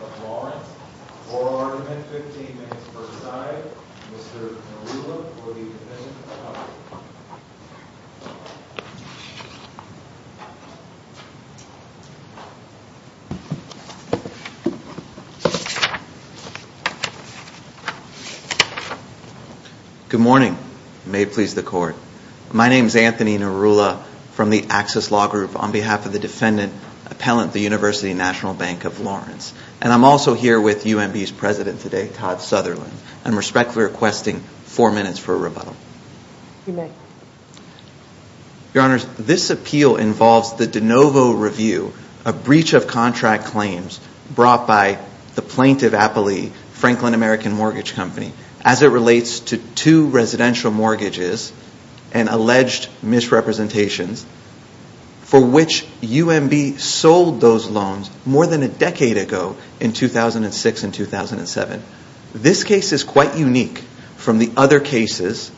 of Lawrence. Oral argument, 15 minutes per side. Mr. Narula for the Division of Finance. Good morning. May it please the court. My name is Anthony Narula from the Access Law Group on behalf of the defendant appellant at the University National Bank of Lawrence. And I'm also here with UMB's president today, Todd Sutherland. I'm respectfully requesting four minutes for a rebuttal. You may. Your Honors, this appeal involves the de novo review, a breach of contract claims brought by the plaintiff appellee, Franklin American Mortgage Company, as it relates to two residential mortgages and alleged misrepresentations for which UMB sold those loans more than a decade ago in 2006 and 2007. This case is quite unique from the other cases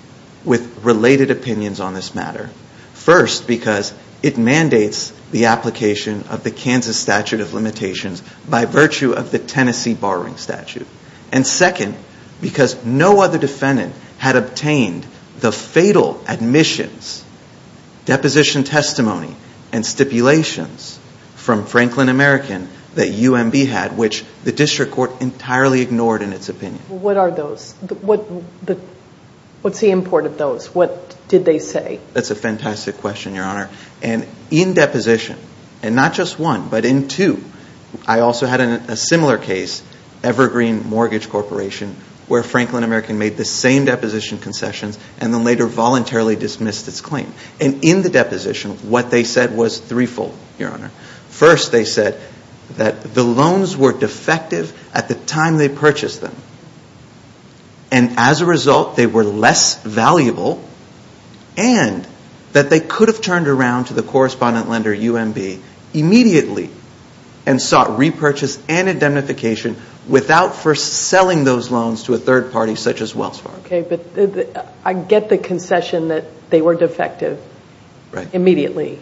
with related opinions on this matter. First, because it mandates the application of the Kansas statute of limitations by virtue of the Tennessee borrowing statute. And second, because no other defendant had obtained the fatal admissions, deposition testimony, and stipulations from Franklin American that UMB had, in which the district court entirely ignored in its opinion. What are those? What's the import of those? What did they say? That's a fantastic question, Your Honor. And in deposition, and not just one, but in two, I also had a similar case, Evergreen Mortgage Corporation, where Franklin American made the same deposition concessions and then later voluntarily dismissed its claim. And in the deposition, what they said was threefold, Your Honor. First, they said that the loans were defective at the time they purchased them. And as a result, they were less valuable, and that they could have turned around to the correspondent lender, UMB, immediately, and sought repurchase and indemnification without first selling those loans to a third party such as Wells Fargo. Okay, but I get the concession that they were defective immediately,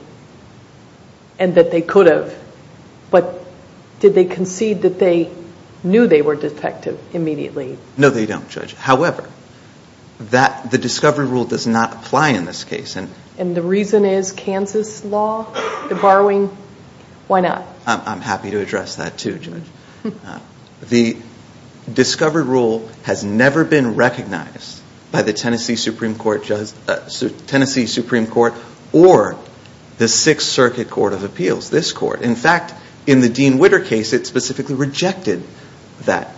and that they could have. But did they concede that they knew they were defective immediately? No, they don't, Judge. However, the discovery rule does not apply in this case. And the reason is Kansas law, the borrowing? Why not? I'm happy to address that, too, Judge. The discovery rule has never been recognized by the Tennessee Supreme Court or the Sixth Circuit Court of Appeals, this court. In fact, in the Dean Witter case, it specifically rejected that.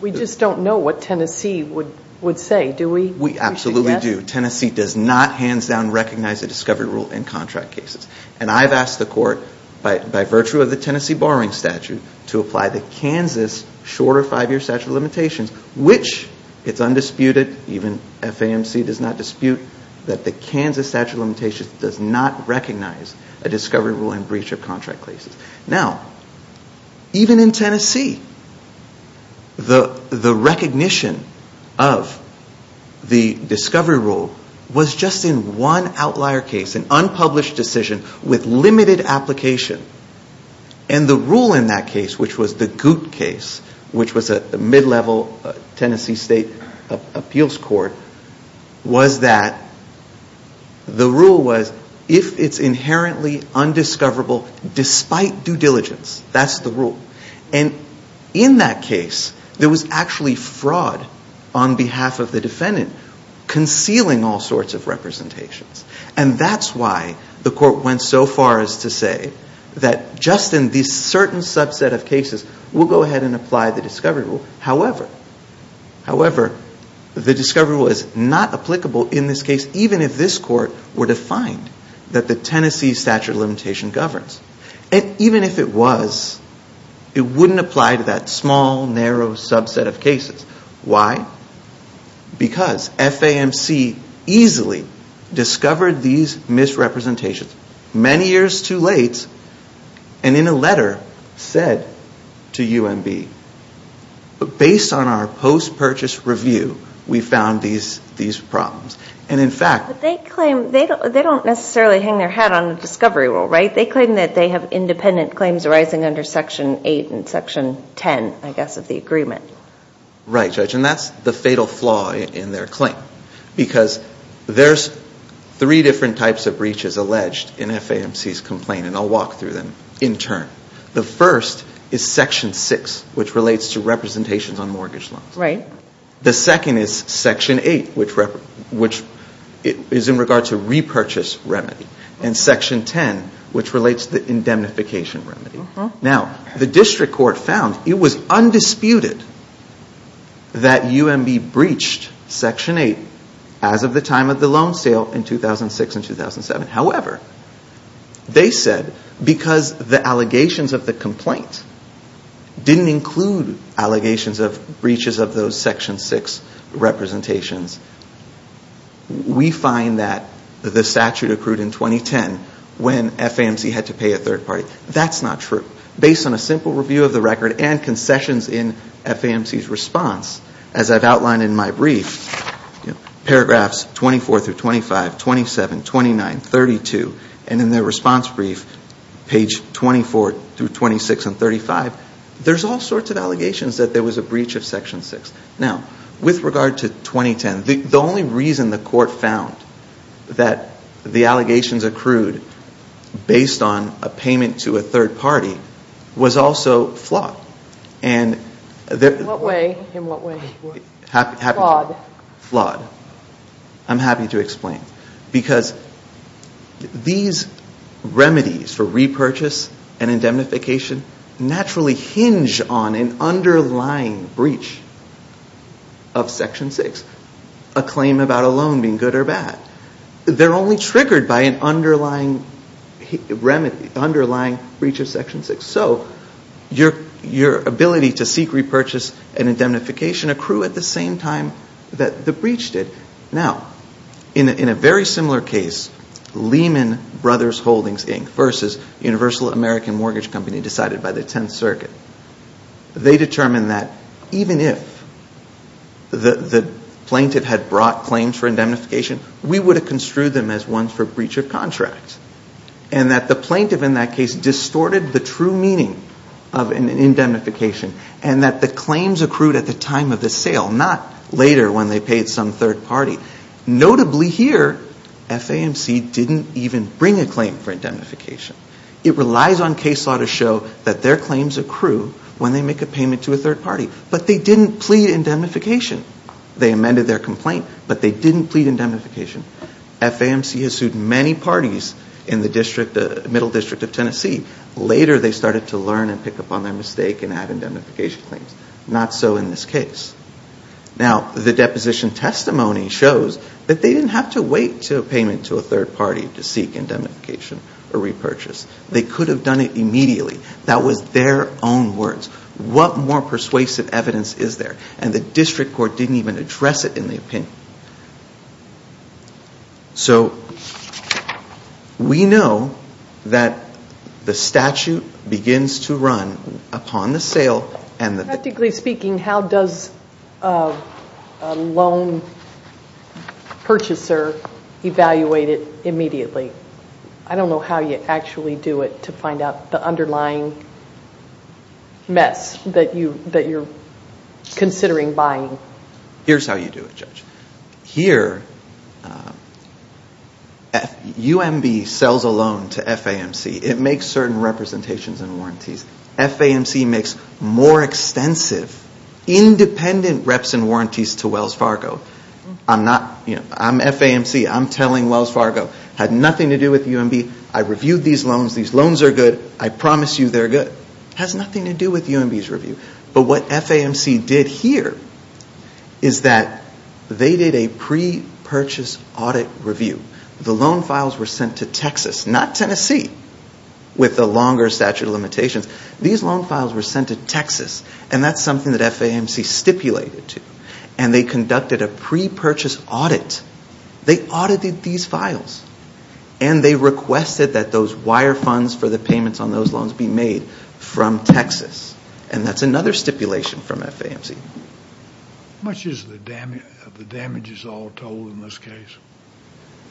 We just don't know what Tennessee would say, do we? We absolutely do. Tennessee does not, hands down, recognize the discovery rule in contract cases. And I've asked the court, by virtue of the Tennessee borrowing statute, to apply the Kansas shorter five-year statute of limitations, which it's undisputed, even FAMC does not dispute, that the Kansas statute of limitations does not recognize a discovery rule in breach of contract cases. Now, even in Tennessee, the recognition of the discovery rule was just in one outlier case, an unpublished decision with limited application. And the rule in that case, which was the Goot case, which was a mid-level Tennessee state appeals court, was that the rule was, if it's inherently undiscoverable despite due diligence, that's the rule. And in that case, there was actually fraud on behalf of the defendant, concealing all sorts of representations. And that's why the court went so far as to say that just in this certain subset of cases, we'll go ahead and apply the discovery rule. However, the discovery rule is not applicable in this case, even if this court were to find that the Tennessee statute of limitations governs. And even if it was, it wouldn't apply to that small, narrow subset of cases. Why? Because FAMC easily discovered these misrepresentations, many years too late, and in a letter said to UMB, based on our post-purchase review, we found these problems. And, in fact... But they claim, they don't necessarily hang their hat on the discovery rule, right? They claim that they have independent claims arising under Section 8 and Section 10, I guess, of the agreement. Right, Judge. And that's the fatal flaw in their claim. Because there's three different types of breaches alleged in FAMC's complaint, and I'll walk through them in turn. The first is Section 6, which relates to representations on mortgage loans. Right. The second is Section 8, which is in regard to repurchase remedy. And Section 10, which relates to indemnification remedy. Now, the district court found it was undisputed that UMB breached Section 8 as of the time of the loan sale in 2006 and 2007. However, they said, because the allegations of the complaint didn't include allegations of breaches of those Section 6 representations, we find that the statute accrued in 2010 when FAMC had to pay a third party. That's not true. Based on a simple review of the record and concessions in FAMC's response, as I've outlined in my brief, paragraphs 24 through 25, 27, 29, 32, and in their response brief, page 24 through 26 and 35, there's all sorts of allegations that there was a breach of Section 6. Now, with regard to 2010, the only reason the court found that the allegations accrued based on a payment to a third party was also flawed. In what way? Flawed. Flawed. I'm happy to explain. Because these remedies for repurchase and indemnification naturally hinge on an underlying breach of Section 6, a claim about a loan being good or bad. They're only triggered by an underlying breach of Section 6. So your ability to seek repurchase and indemnification accrue at the same time that the breach did. Now, in a very similar case, Lehman Brothers Holdings, Inc., versus Universal American Mortgage Company decided by the Tenth Circuit, they determined that even if the plaintiff had brought claims for indemnification, we would have construed them as ones for breach of contract, and that the plaintiff in that case distorted the true meaning of indemnification and that the claims accrued at the time of the sale, not later when they paid some third party. Notably here, FAMC didn't even bring a claim for indemnification. It relies on case law to show that their claims accrue when they make a payment to a third party. But they didn't plead indemnification. They amended their complaint, but they didn't plead indemnification. FAMC has sued many parties in the middle district of Tennessee. Later, they started to learn and pick up on their mistake and add indemnification claims. Not so in this case. Now, the deposition testimony shows that they didn't have to wait to a payment to a third party to seek indemnification or repurchase. They could have done it immediately. That was their own words. What more persuasive evidence is there? And the district court didn't even address it in the opinion. So we know that the statute begins to run upon the sale. Practically speaking, how does a loan purchaser evaluate it immediately? I don't know how you actually do it to find out the underlying mess that you're considering buying. Here's how you do it, Judge. Here, UMB sells a loan to FAMC. It makes certain representations and warranties. FAMC makes more extensive, independent reps and warranties to Wells Fargo. I'm FAMC. I'm telling Wells Fargo it had nothing to do with UMB. I reviewed these loans. These loans are good. I promise you they're good. It has nothing to do with UMB's review. But what FAMC did here is that they did a pre-purchase audit review. The loan files were sent to Texas, not Tennessee, with the longer statute of limitations. These loan files were sent to Texas, and that's something that FAMC stipulated to. And they conducted a pre-purchase audit. They audited these files, and they requested that those wire funds for the payments on those loans be made from Texas. And that's another stipulation from FAMC. How much is the damages all told in this case?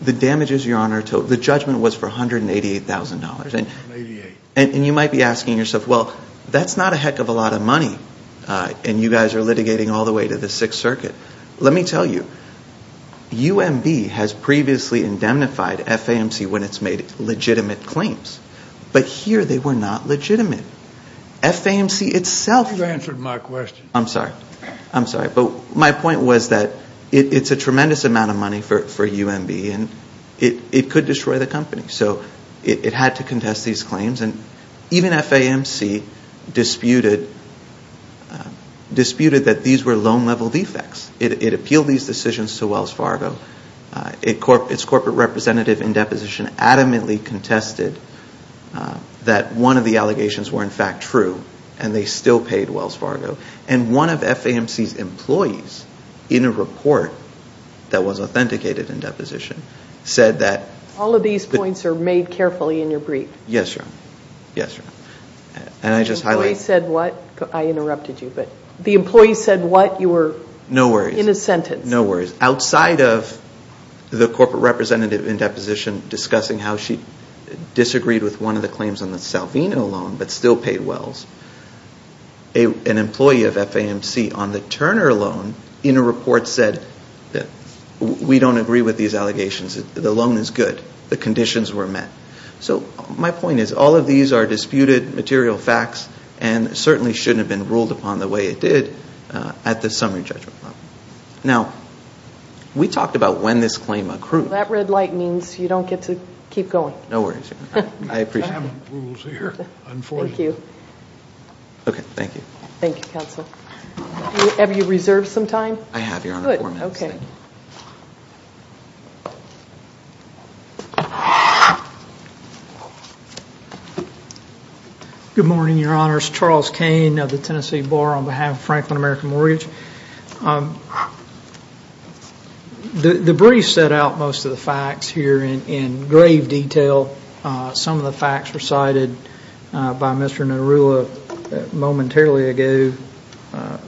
The damages, Your Honor, the judgment was for $188,000. $188,000. And you might be asking yourself, well, that's not a heck of a lot of money. And you guys are litigating all the way to the Sixth Circuit. Let me tell you, UMB has previously indemnified FAMC when it's made legitimate claims. But here they were not legitimate. FAMC itself. You answered my question. I'm sorry. I'm sorry. But my point was that it's a tremendous amount of money for UMB, and it could destroy the company. So it had to contest these claims. And even FAMC disputed that these were loan-level defects. It appealed these decisions to Wells Fargo. Its corporate representative in deposition adamantly contested that one of the allegations were, in fact, true. And they still paid Wells Fargo. And one of FAMC's employees in a report that was authenticated in deposition said that. All of these points are made carefully in your brief. Yes, Your Honor. Yes, Your Honor. And I just highlight. The employee said what? I interrupted you. But the employee said what? You were. No worries. In a sentence. No worries. Outside of the corporate representative in deposition discussing how she disagreed with one of the claims on the Salvino loan, but still paid Wells, an employee of FAMC on the Turner loan in a report said that we don't agree with these allegations. The loan is good. The conditions were met. So my point is all of these are disputed material facts and certainly shouldn't have been ruled upon the way it did at the summary judgment level. Now, we talked about when this claim accrued. That red light means you don't get to keep going. No worries. I appreciate it. I have rules here, unfortunately. Thank you. Okay. Thank you. Thank you, counsel. Have you reserved some time? I have, Your Honor. Good. Okay. Good morning, Your Honors. Charles Cain of the Tennessee Bar on behalf of Franklin American Mortgage. The brief set out most of the facts here in grave detail. Some of the facts recited by Mr. Narula momentarily ago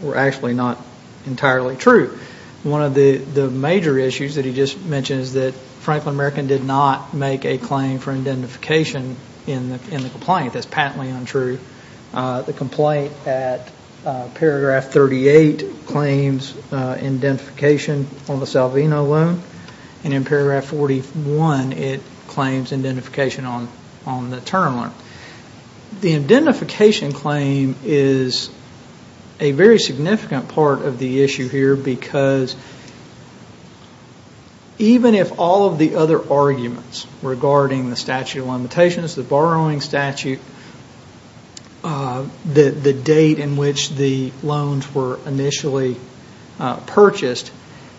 were actually not entirely true. One of the major issues that he just mentioned is that Franklin American did not make a claim for identification in the complaint. That's patently untrue. The complaint at paragraph 38 claims identification on the Salvino loan. And in paragraph 41, it claims identification on the Turner loan. The identification claim is a very significant part of the issue here because even if all of the other arguments regarding the statute of limitations, the borrowing statute, the date in which the loans were initially purchased,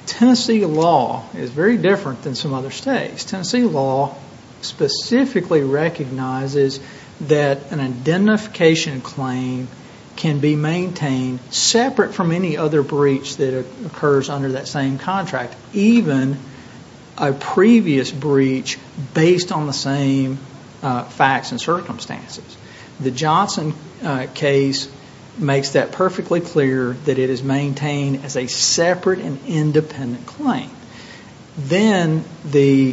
Tennessee law is very different than some other states. Tennessee law specifically recognizes that an identification claim can be maintained separate from any other breach that occurs under that same contract, even a previous breach based on the same facts and circumstances. The Johnson case makes that perfectly clear that it is maintained as a separate and independent claim. Then the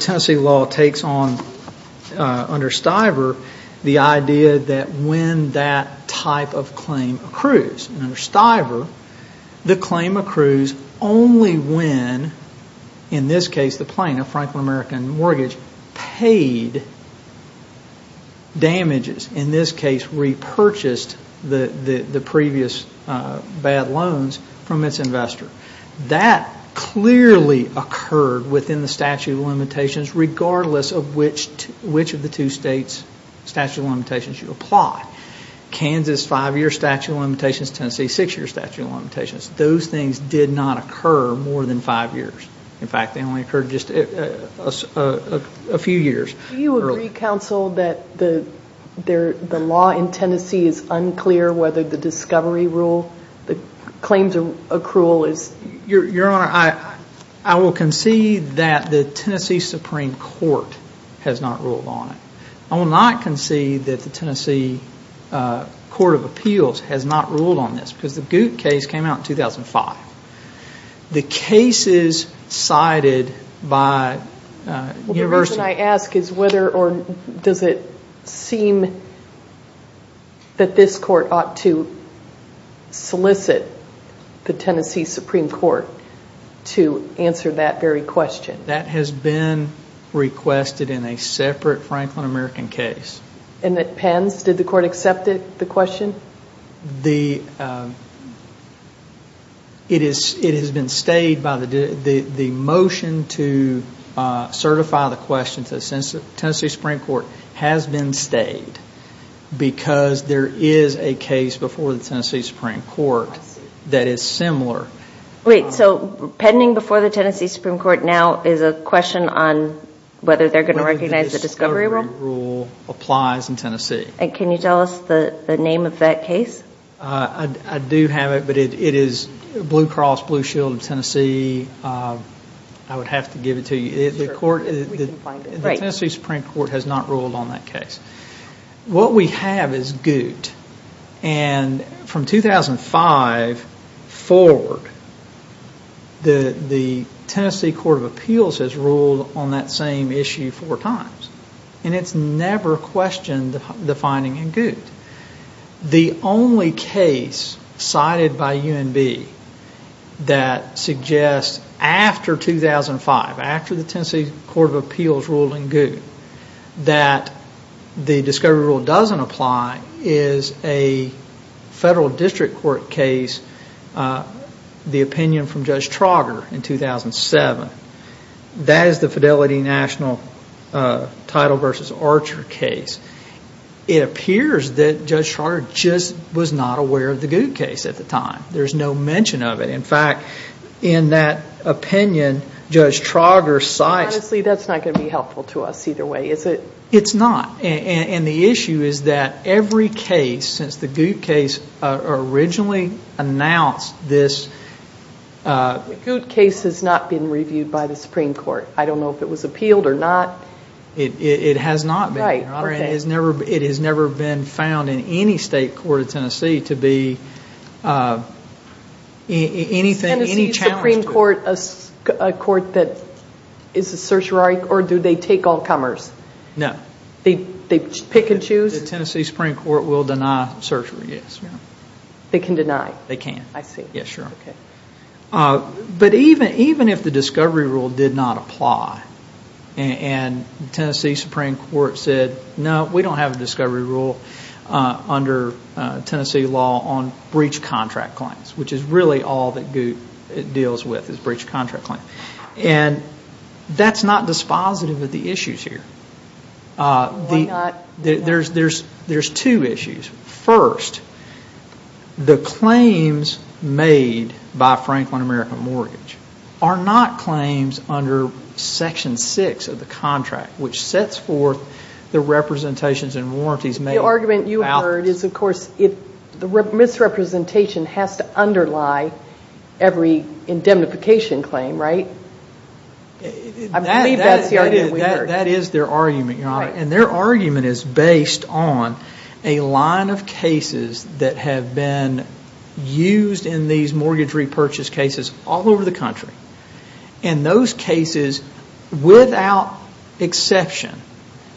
Tennessee law takes on under Stiver the idea that when that type of claim accrues. And under Stiver, the claim accrues only when, in this case, the plaintiff, Franklin American Mortgage, paid damages, in this case repurchased the previous bad loans from its investor. That clearly occurred within the statute of limitations regardless of which of the two states' statute of limitations you apply. Kansas, five-year statute of limitations. Tennessee, six-year statute of limitations. Those things did not occur more than five years. In fact, they only occurred just a few years. Do you agree, counsel, that the law in Tennessee is unclear whether the discovery rule, the claims accrual is? Your Honor, I will concede that the Tennessee Supreme Court has not ruled on it. I will not concede that the Tennessee Court of Appeals has not ruled on this because the Goot case came out in 2005. The case is cited by University. The reason I ask is whether or does it seem that this court ought to solicit the Tennessee Supreme Court to answer that very question? That has been requested in a separate Franklin American case. And it pens? Did the court accept the question? It has been stayed. The motion to certify the question to the Tennessee Supreme Court has been stayed because there is a case before the Tennessee Supreme Court that is similar. Wait, so pending before the Tennessee Supreme Court now is a question on whether they're going to recognize the discovery rule? Whether the discovery rule applies in Tennessee. And can you tell us the name of that case? I do have it, but it is Blue Cross Blue Shield of Tennessee. I would have to give it to you. The Tennessee Supreme Court has not ruled on that case. What we have is Goot. And from 2005 forward, the Tennessee Court of Appeals has ruled on that same issue four times. And it's never questioned the finding in Goot. The only case cited by UNB that suggests after 2005, after the Tennessee Court of Appeals ruled in Goot, that the discovery rule doesn't apply is a federal district court case, the opinion from Judge Trauger in 2007. That is the Fidelity National Title v. Archer case. It appears that Judge Trauger just was not aware of the Goot case at the time. There's no mention of it. In fact, in that opinion, Judge Trauger cites- Honestly, that's not going to be helpful to us either way, is it? It's not. And the issue is that every case since the Goot case originally announced this- The Goot case has not been reviewed by the Supreme Court. I don't know if it was appealed or not. It has not been, Your Honor. It has never been found in any state court of Tennessee to be anything- Is the Tennessee Supreme Court a court that is a certiorari or do they take all comers? No. They pick and choose? The Tennessee Supreme Court will deny certiorari, yes. They can deny? They can. I see. Yes, Your Honor. Okay. But even if the discovery rule did not apply and the Tennessee Supreme Court said, no, we don't have a discovery rule under Tennessee law on breach contract claims, which is really all that Goot deals with is breach contract claims. And that's not dispositive of the issues here. Why not? There's two issues. First, the claims made by Franklin American Mortgage are not claims under Section 6 of the contract, which sets forth the representations and warranties made. The argument you heard is, of course, the misrepresentation has to underlie every indemnification claim, right? I believe that's the argument we heard. That is their argument, Your Honor. And their argument is based on a line of cases that have been used in these mortgage repurchase cases all over the country. And those cases, without exception,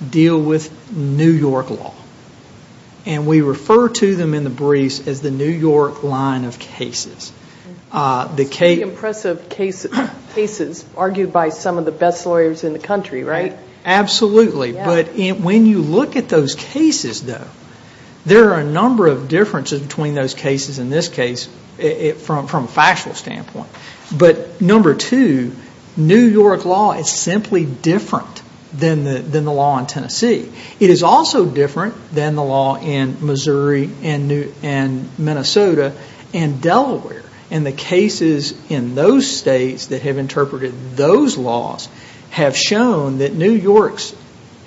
deal with New York law. And we refer to them in the briefs as the New York line of cases. The impressive cases argued by some of the best lawyers in the country, right? Absolutely. But when you look at those cases, though, there are a number of differences between those cases in this case from a factual standpoint. But number two, New York law is simply different than the law in Tennessee. It is also different than the law in Missouri and Minnesota and Delaware. And the cases in those states that have interpreted those laws have shown that New York's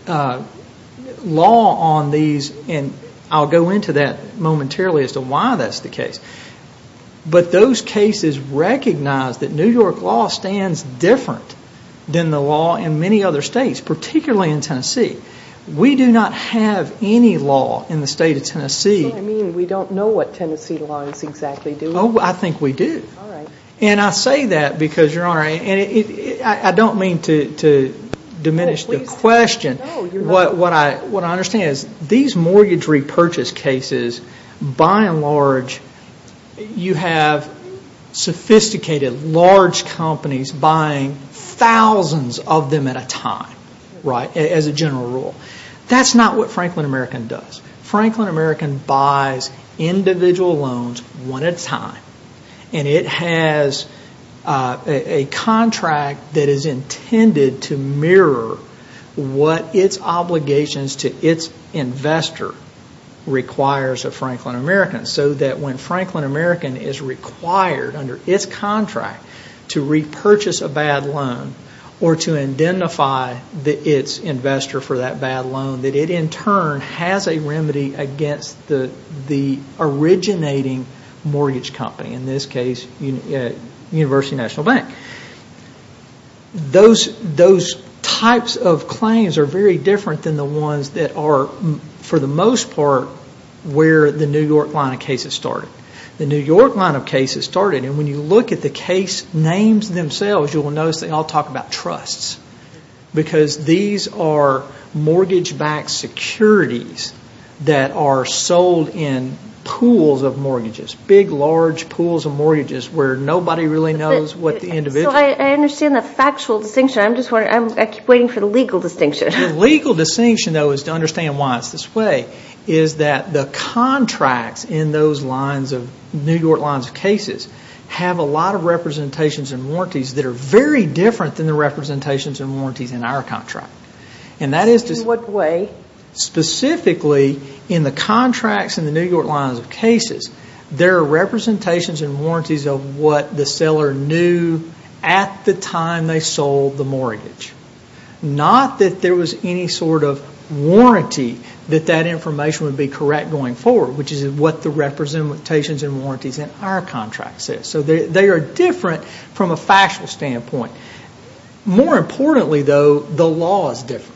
law on these, and I'll go into that momentarily as to why that's the case, but those cases recognize that New York law stands different than the law in many other states, particularly in Tennessee. We do not have any law in the state of Tennessee. Does that mean we don't know what Tennessee law is exactly doing? Oh, I think we do. And I say that because, Your Honor, I don't mean to diminish the question. What I understand is these mortgage repurchase cases, by and large, you have sophisticated, large companies buying thousands of them at a time, right, as a general rule. That's not what Franklin American does. Franklin American buys individual loans one at a time. And it has a contract that is intended to mirror what its obligations to its investor requires of Franklin American, so that when Franklin American is required under its contract to repurchase a bad loan or to identify its investor for that bad loan, that it, in turn, has a remedy against the originating mortgage company, in this case, University National Bank. Those types of claims are very different than the ones that are, for the most part, where the New York line of cases started. The New York line of cases started, and when you look at the case names themselves, you will notice they all talk about trusts, because these are mortgage-backed securities that are sold in pools of mortgages, big, large pools of mortgages, where nobody really knows what the individual. So I understand the factual distinction. I'm just wondering. I keep waiting for the legal distinction. The legal distinction, though, is to understand why it's this way, is that the contracts in those New York lines of cases have a lot of representations and warranties that are very different than the representations and warranties in our contract. In what way? Specifically, in the contracts in the New York lines of cases, there are representations and warranties of what the seller knew at the time they sold the mortgage, not that there was any sort of warranty that that information would be correct going forward, which is what the representations and warranties in our contract says. So they are different from a factual standpoint. More importantly, though, the law is different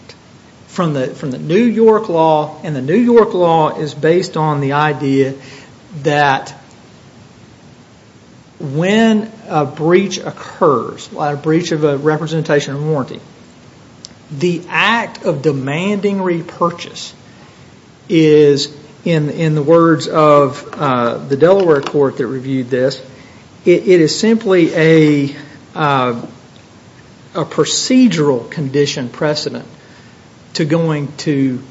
from the New York law, and the New York law is based on the idea that when a breach occurs, a breach of a representation or warranty, the act of demanding repurchase is, in the words of the Delaware court that reviewed this, it is simply a procedural condition precedent to going to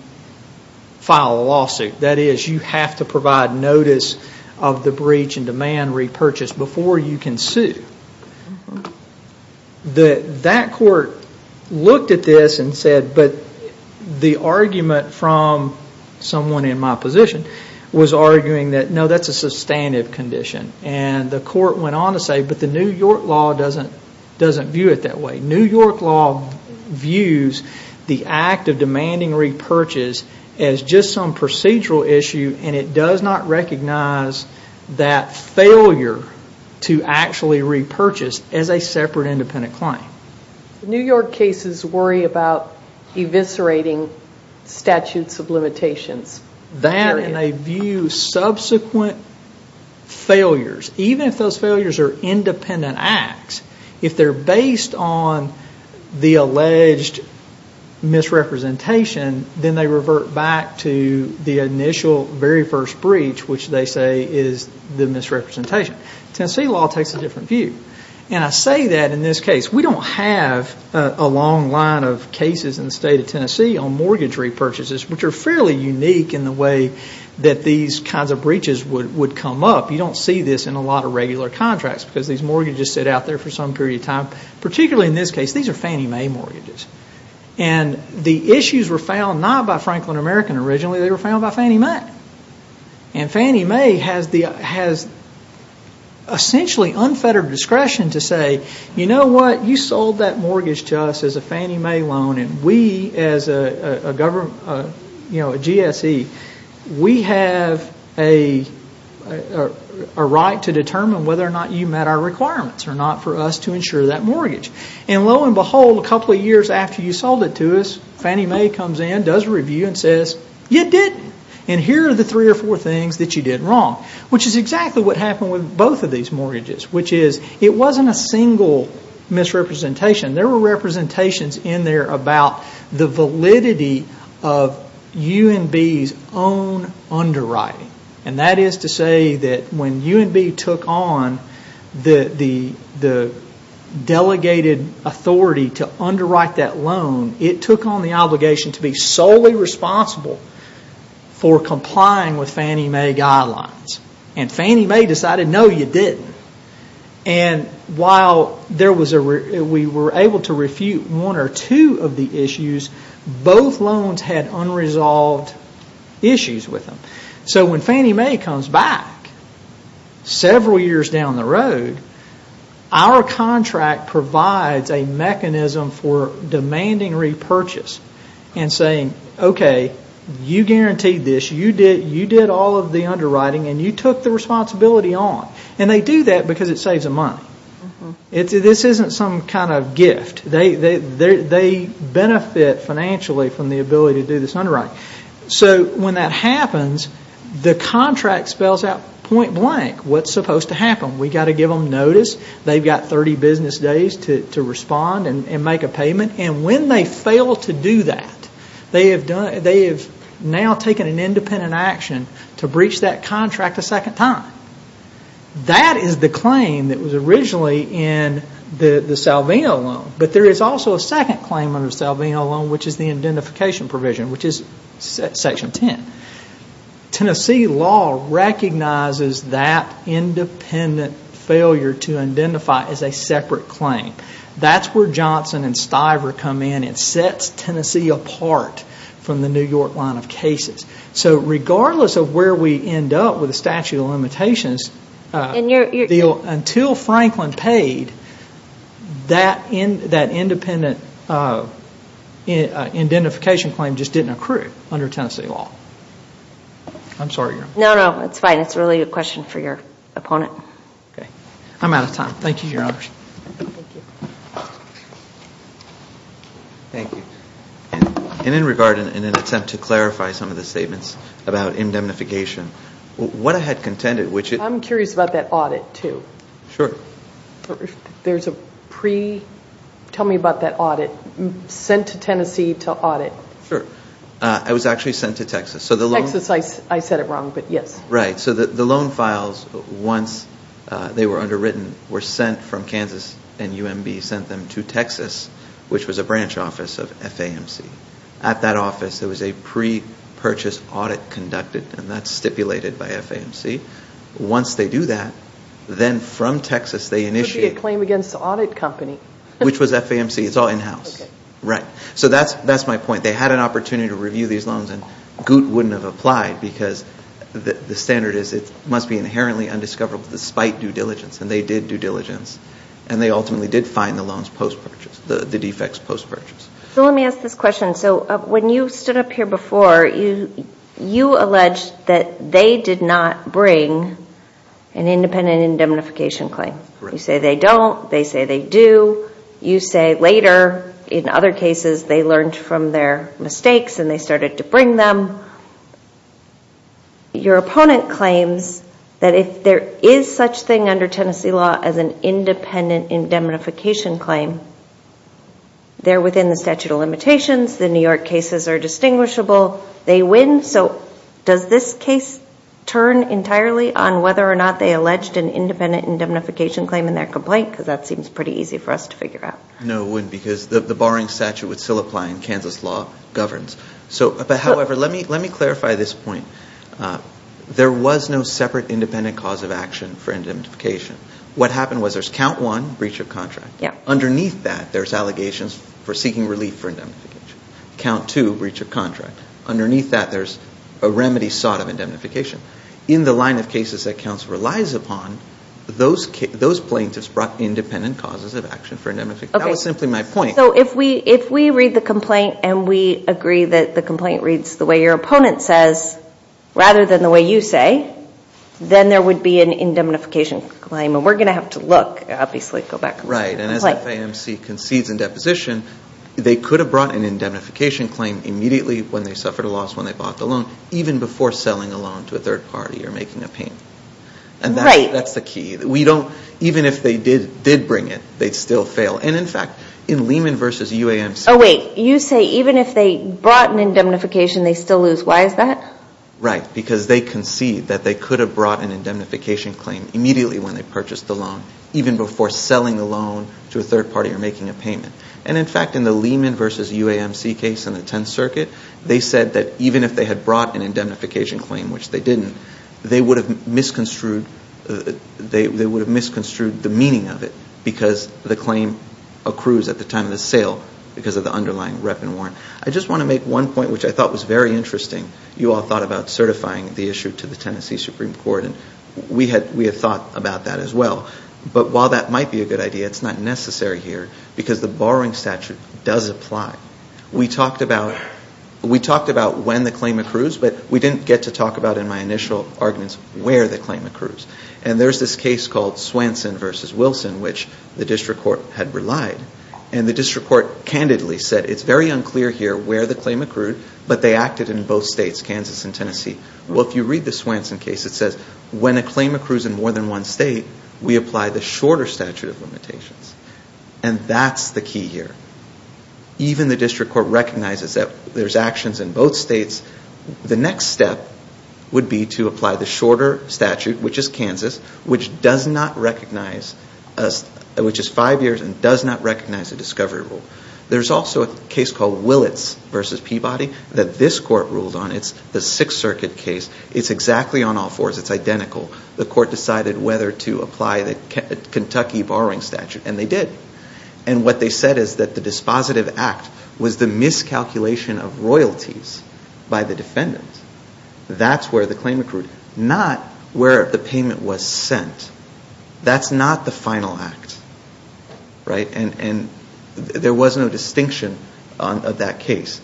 file a lawsuit. That is, you have to provide notice of the breach and demand repurchase before you can sue. That court looked at this and said, but the argument from someone in my position was arguing that, no, that is a sustainable condition. And the court went on to say, but the New York law doesn't view it that way. New York law views the act of demanding repurchase as just some procedural issue, and it does not recognize that failure to actually repurchase as a separate independent claim. New York cases worry about eviscerating statutes of limitations. That, and they view subsequent failures, even if those failures are independent acts, if they are based on the alleged misrepresentation, then they revert back to the initial, very first breach, which they say is the misrepresentation. Tennessee law takes a different view. And I say that in this case. We don't have a long line of cases in the state of Tennessee on mortgage repurchases, which are fairly unique in the way that these kinds of breaches would come up. You don't see this in a lot of regular contracts, because these mortgages sit out there for some period of time. Particularly in this case, these are Fannie Mae mortgages. And the issues were found not by Franklin American originally. They were found by Fannie Mae. And Fannie Mae has essentially unfettered discretion to say, you know what, you sold that mortgage to us as a Fannie Mae loan, and we as a GSE, we have a right to determine whether or not you met our requirements or not for us to insure that mortgage. And lo and behold, a couple of years after you sold it to us, Fannie Mae comes in, does a review, and says, you didn't. And here are the three or four things that you did wrong, which is exactly what happened with both of these mortgages, which is it wasn't a single misrepresentation. There were representations in there about the validity of UNB's own underwriting. And that is to say that when UNB took on the delegated authority to underwrite that loan, it took on the obligation to be solely responsible for complying with Fannie Mae guidelines. And Fannie Mae decided, no, you didn't. And while we were able to refute one or two of the issues, both loans had unresolved issues with them. So when Fannie Mae comes back several years down the road, our contract provides a mechanism for demanding repurchase and saying, okay, you guaranteed this, you did all of the underwriting, and you took the responsibility on. And they do that because it saves them money. This isn't some kind of gift. They benefit financially from the ability to do this underwriting. So when that happens, the contract spells out point blank what's supposed to happen. We've got to give them notice. They've got 30 business days to respond and make a payment. And when they fail to do that, they have now taken an independent action to breach that contract a second time. That is the claim that was originally in the Salvino loan. But there is also a second claim under the Salvino loan, which is the identification provision, which is Section 10. Tennessee law recognizes that independent failure to identify as a separate claim. That's where Johnson and Stiver come in. It sets Tennessee apart from the New York line of cases. So regardless of where we end up with the statute of limitations, until Franklin paid, that independent identification claim just didn't accrue under Tennessee law. I'm sorry, Your Honor. No, no, it's fine. It's really a question for your opponent. I'm out of time. Thank you, Your Honor. Thank you. Thank you. And in regard, in an attempt to clarify some of the statements about indemnification, what I had contended, which it... I'm curious about that audit, too. Sure. There's a pre... Tell me about that audit. Sent to Tennessee to audit. Sure. It was actually sent to Texas. So the loan... Texas, I said it wrong, but yes. Right. So the loan files, once they were underwritten, were sent from Kansas, and UMB sent them to Texas, which was a branch office of FAMC. At that office, there was a pre-purchase audit conducted, and that's stipulated by FAMC. Once they do that, then from Texas, they initiate... Could be a claim against an audit company. Which was FAMC. It's all in-house. Okay. Right. So that's my point. They had an opportunity to review these loans, and GOOT wouldn't have applied, because the standard is it must be inherently undiscoverable despite due diligence, and they did due diligence, and they ultimately did find the loans post-purchase, the defects post-purchase. So let me ask this question. So when you stood up here before, you alleged that they did not bring an independent indemnification claim. Right. You say they don't. They say they do. You say later, in other cases, they learned from their mistakes, and they started to bring them. Your opponent claims that if there is such thing under Tennessee law as an independent indemnification claim, they're within the statute of limitations. The New York cases are distinguishable. They win. So does this case turn entirely on whether or not they alleged an independent indemnification claim in their complaint? Because that seems pretty easy for us to figure out. No, it wouldn't, because the barring statute would still apply, and Kansas law governs. But, however, let me clarify this point. There was no separate independent cause of action for indemnification. What happened was there's count one, breach of contract. Underneath that, there's allegations for seeking relief for indemnification. Count two, breach of contract. Underneath that, there's a remedy sought of indemnification. In the line of cases that counsel relies upon, those plaintiffs brought independent causes of action for indemnification. That was simply my point. So if we read the complaint and we agree that the complaint reads the way your opponent says rather than the way you say, then there would be an indemnification claim. And we're going to have to look, obviously. Go back. Right. And as FAMC concedes in deposition, they could have brought an indemnification claim immediately when they suffered a loss when they bought the loan, even before selling a loan to a third party or making a payment. Right. And that's the key. We don't, even if they did bring it, they'd still fail. And, in fact, in Lehman v. UAMC. Oh, wait. You say even if they brought an indemnification, they'd still lose. Why is that? Right. Because they concede that they could have brought an indemnification claim immediately when they purchased the loan, even before selling the loan to a third party or making a payment. And, in fact, in the Lehman v. UAMC case in the Tenth Circuit, they said that even if they had brought an indemnification claim, which they didn't, they would have misconstrued the meaning of it because the claim accrues at the time of the sale because of the underlying rep and warrant. I just want to make one point, which I thought was very interesting. You all thought about certifying the issue to the Tennessee Supreme Court. And we had thought about that as well. But while that might be a good idea, it's not necessary here because the borrowing statute does apply. We talked about when the claim accrues, but we didn't get to talk about in my initial arguments where the claim accrues. And there's this case called Swanson v. Wilson, which the district court had relied. And the district court candidly said it's very unclear here where the claim accrued, but they acted in both states, Kansas and Tennessee. Well, if you read the Swanson case, it says when a claim accrues in more than one state, we apply the shorter statute of limitations. And that's the key here. Even the district court recognizes that there's actions in both states. The next step would be to apply the shorter statute, which is Kansas, which is five years and does not recognize the discovery rule. There's also a case called Willits v. Peabody that this court ruled on. It's the Sixth Circuit case. It's exactly on all fours. It's identical. The court decided whether to apply the Kentucky borrowing statute, and they did. And what they said is that the dispositive act was the miscalculation of royalties by the defendant. That's where the claim accrued, not where the payment was sent. That's not the final act, right? And there was no distinction of that case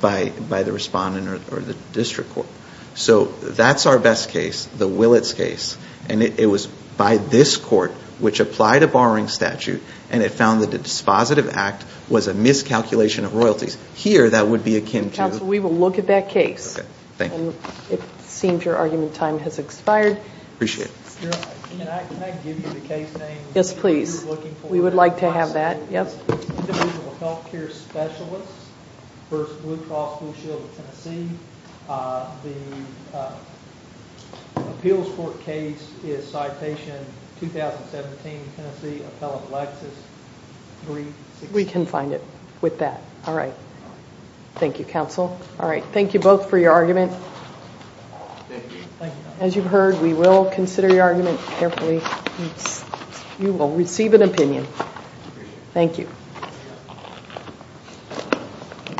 by the respondent or the district court. So that's our best case, the Willits case. And it was by this court, which applied a borrowing statute, and it found that the dispositive act was a miscalculation of royalties. Here, that would be akin to— Counsel, we will look at that case. Okay. Thank you. It seems your argument time has expired. Appreciate it. Can I give you the case name? Yes, please. We would like to have that. Individual health care specialists v. Blue Cross Blue Shield of Tennessee. The appeals court case is Citation 2017, Tennessee, Appellate Lexis 360. We can find it with that. All right. Thank you, counsel. All right. Thank you both for your argument. Thank you. As you've heard, we will consider your argument carefully. You will receive an opinion. Thank you.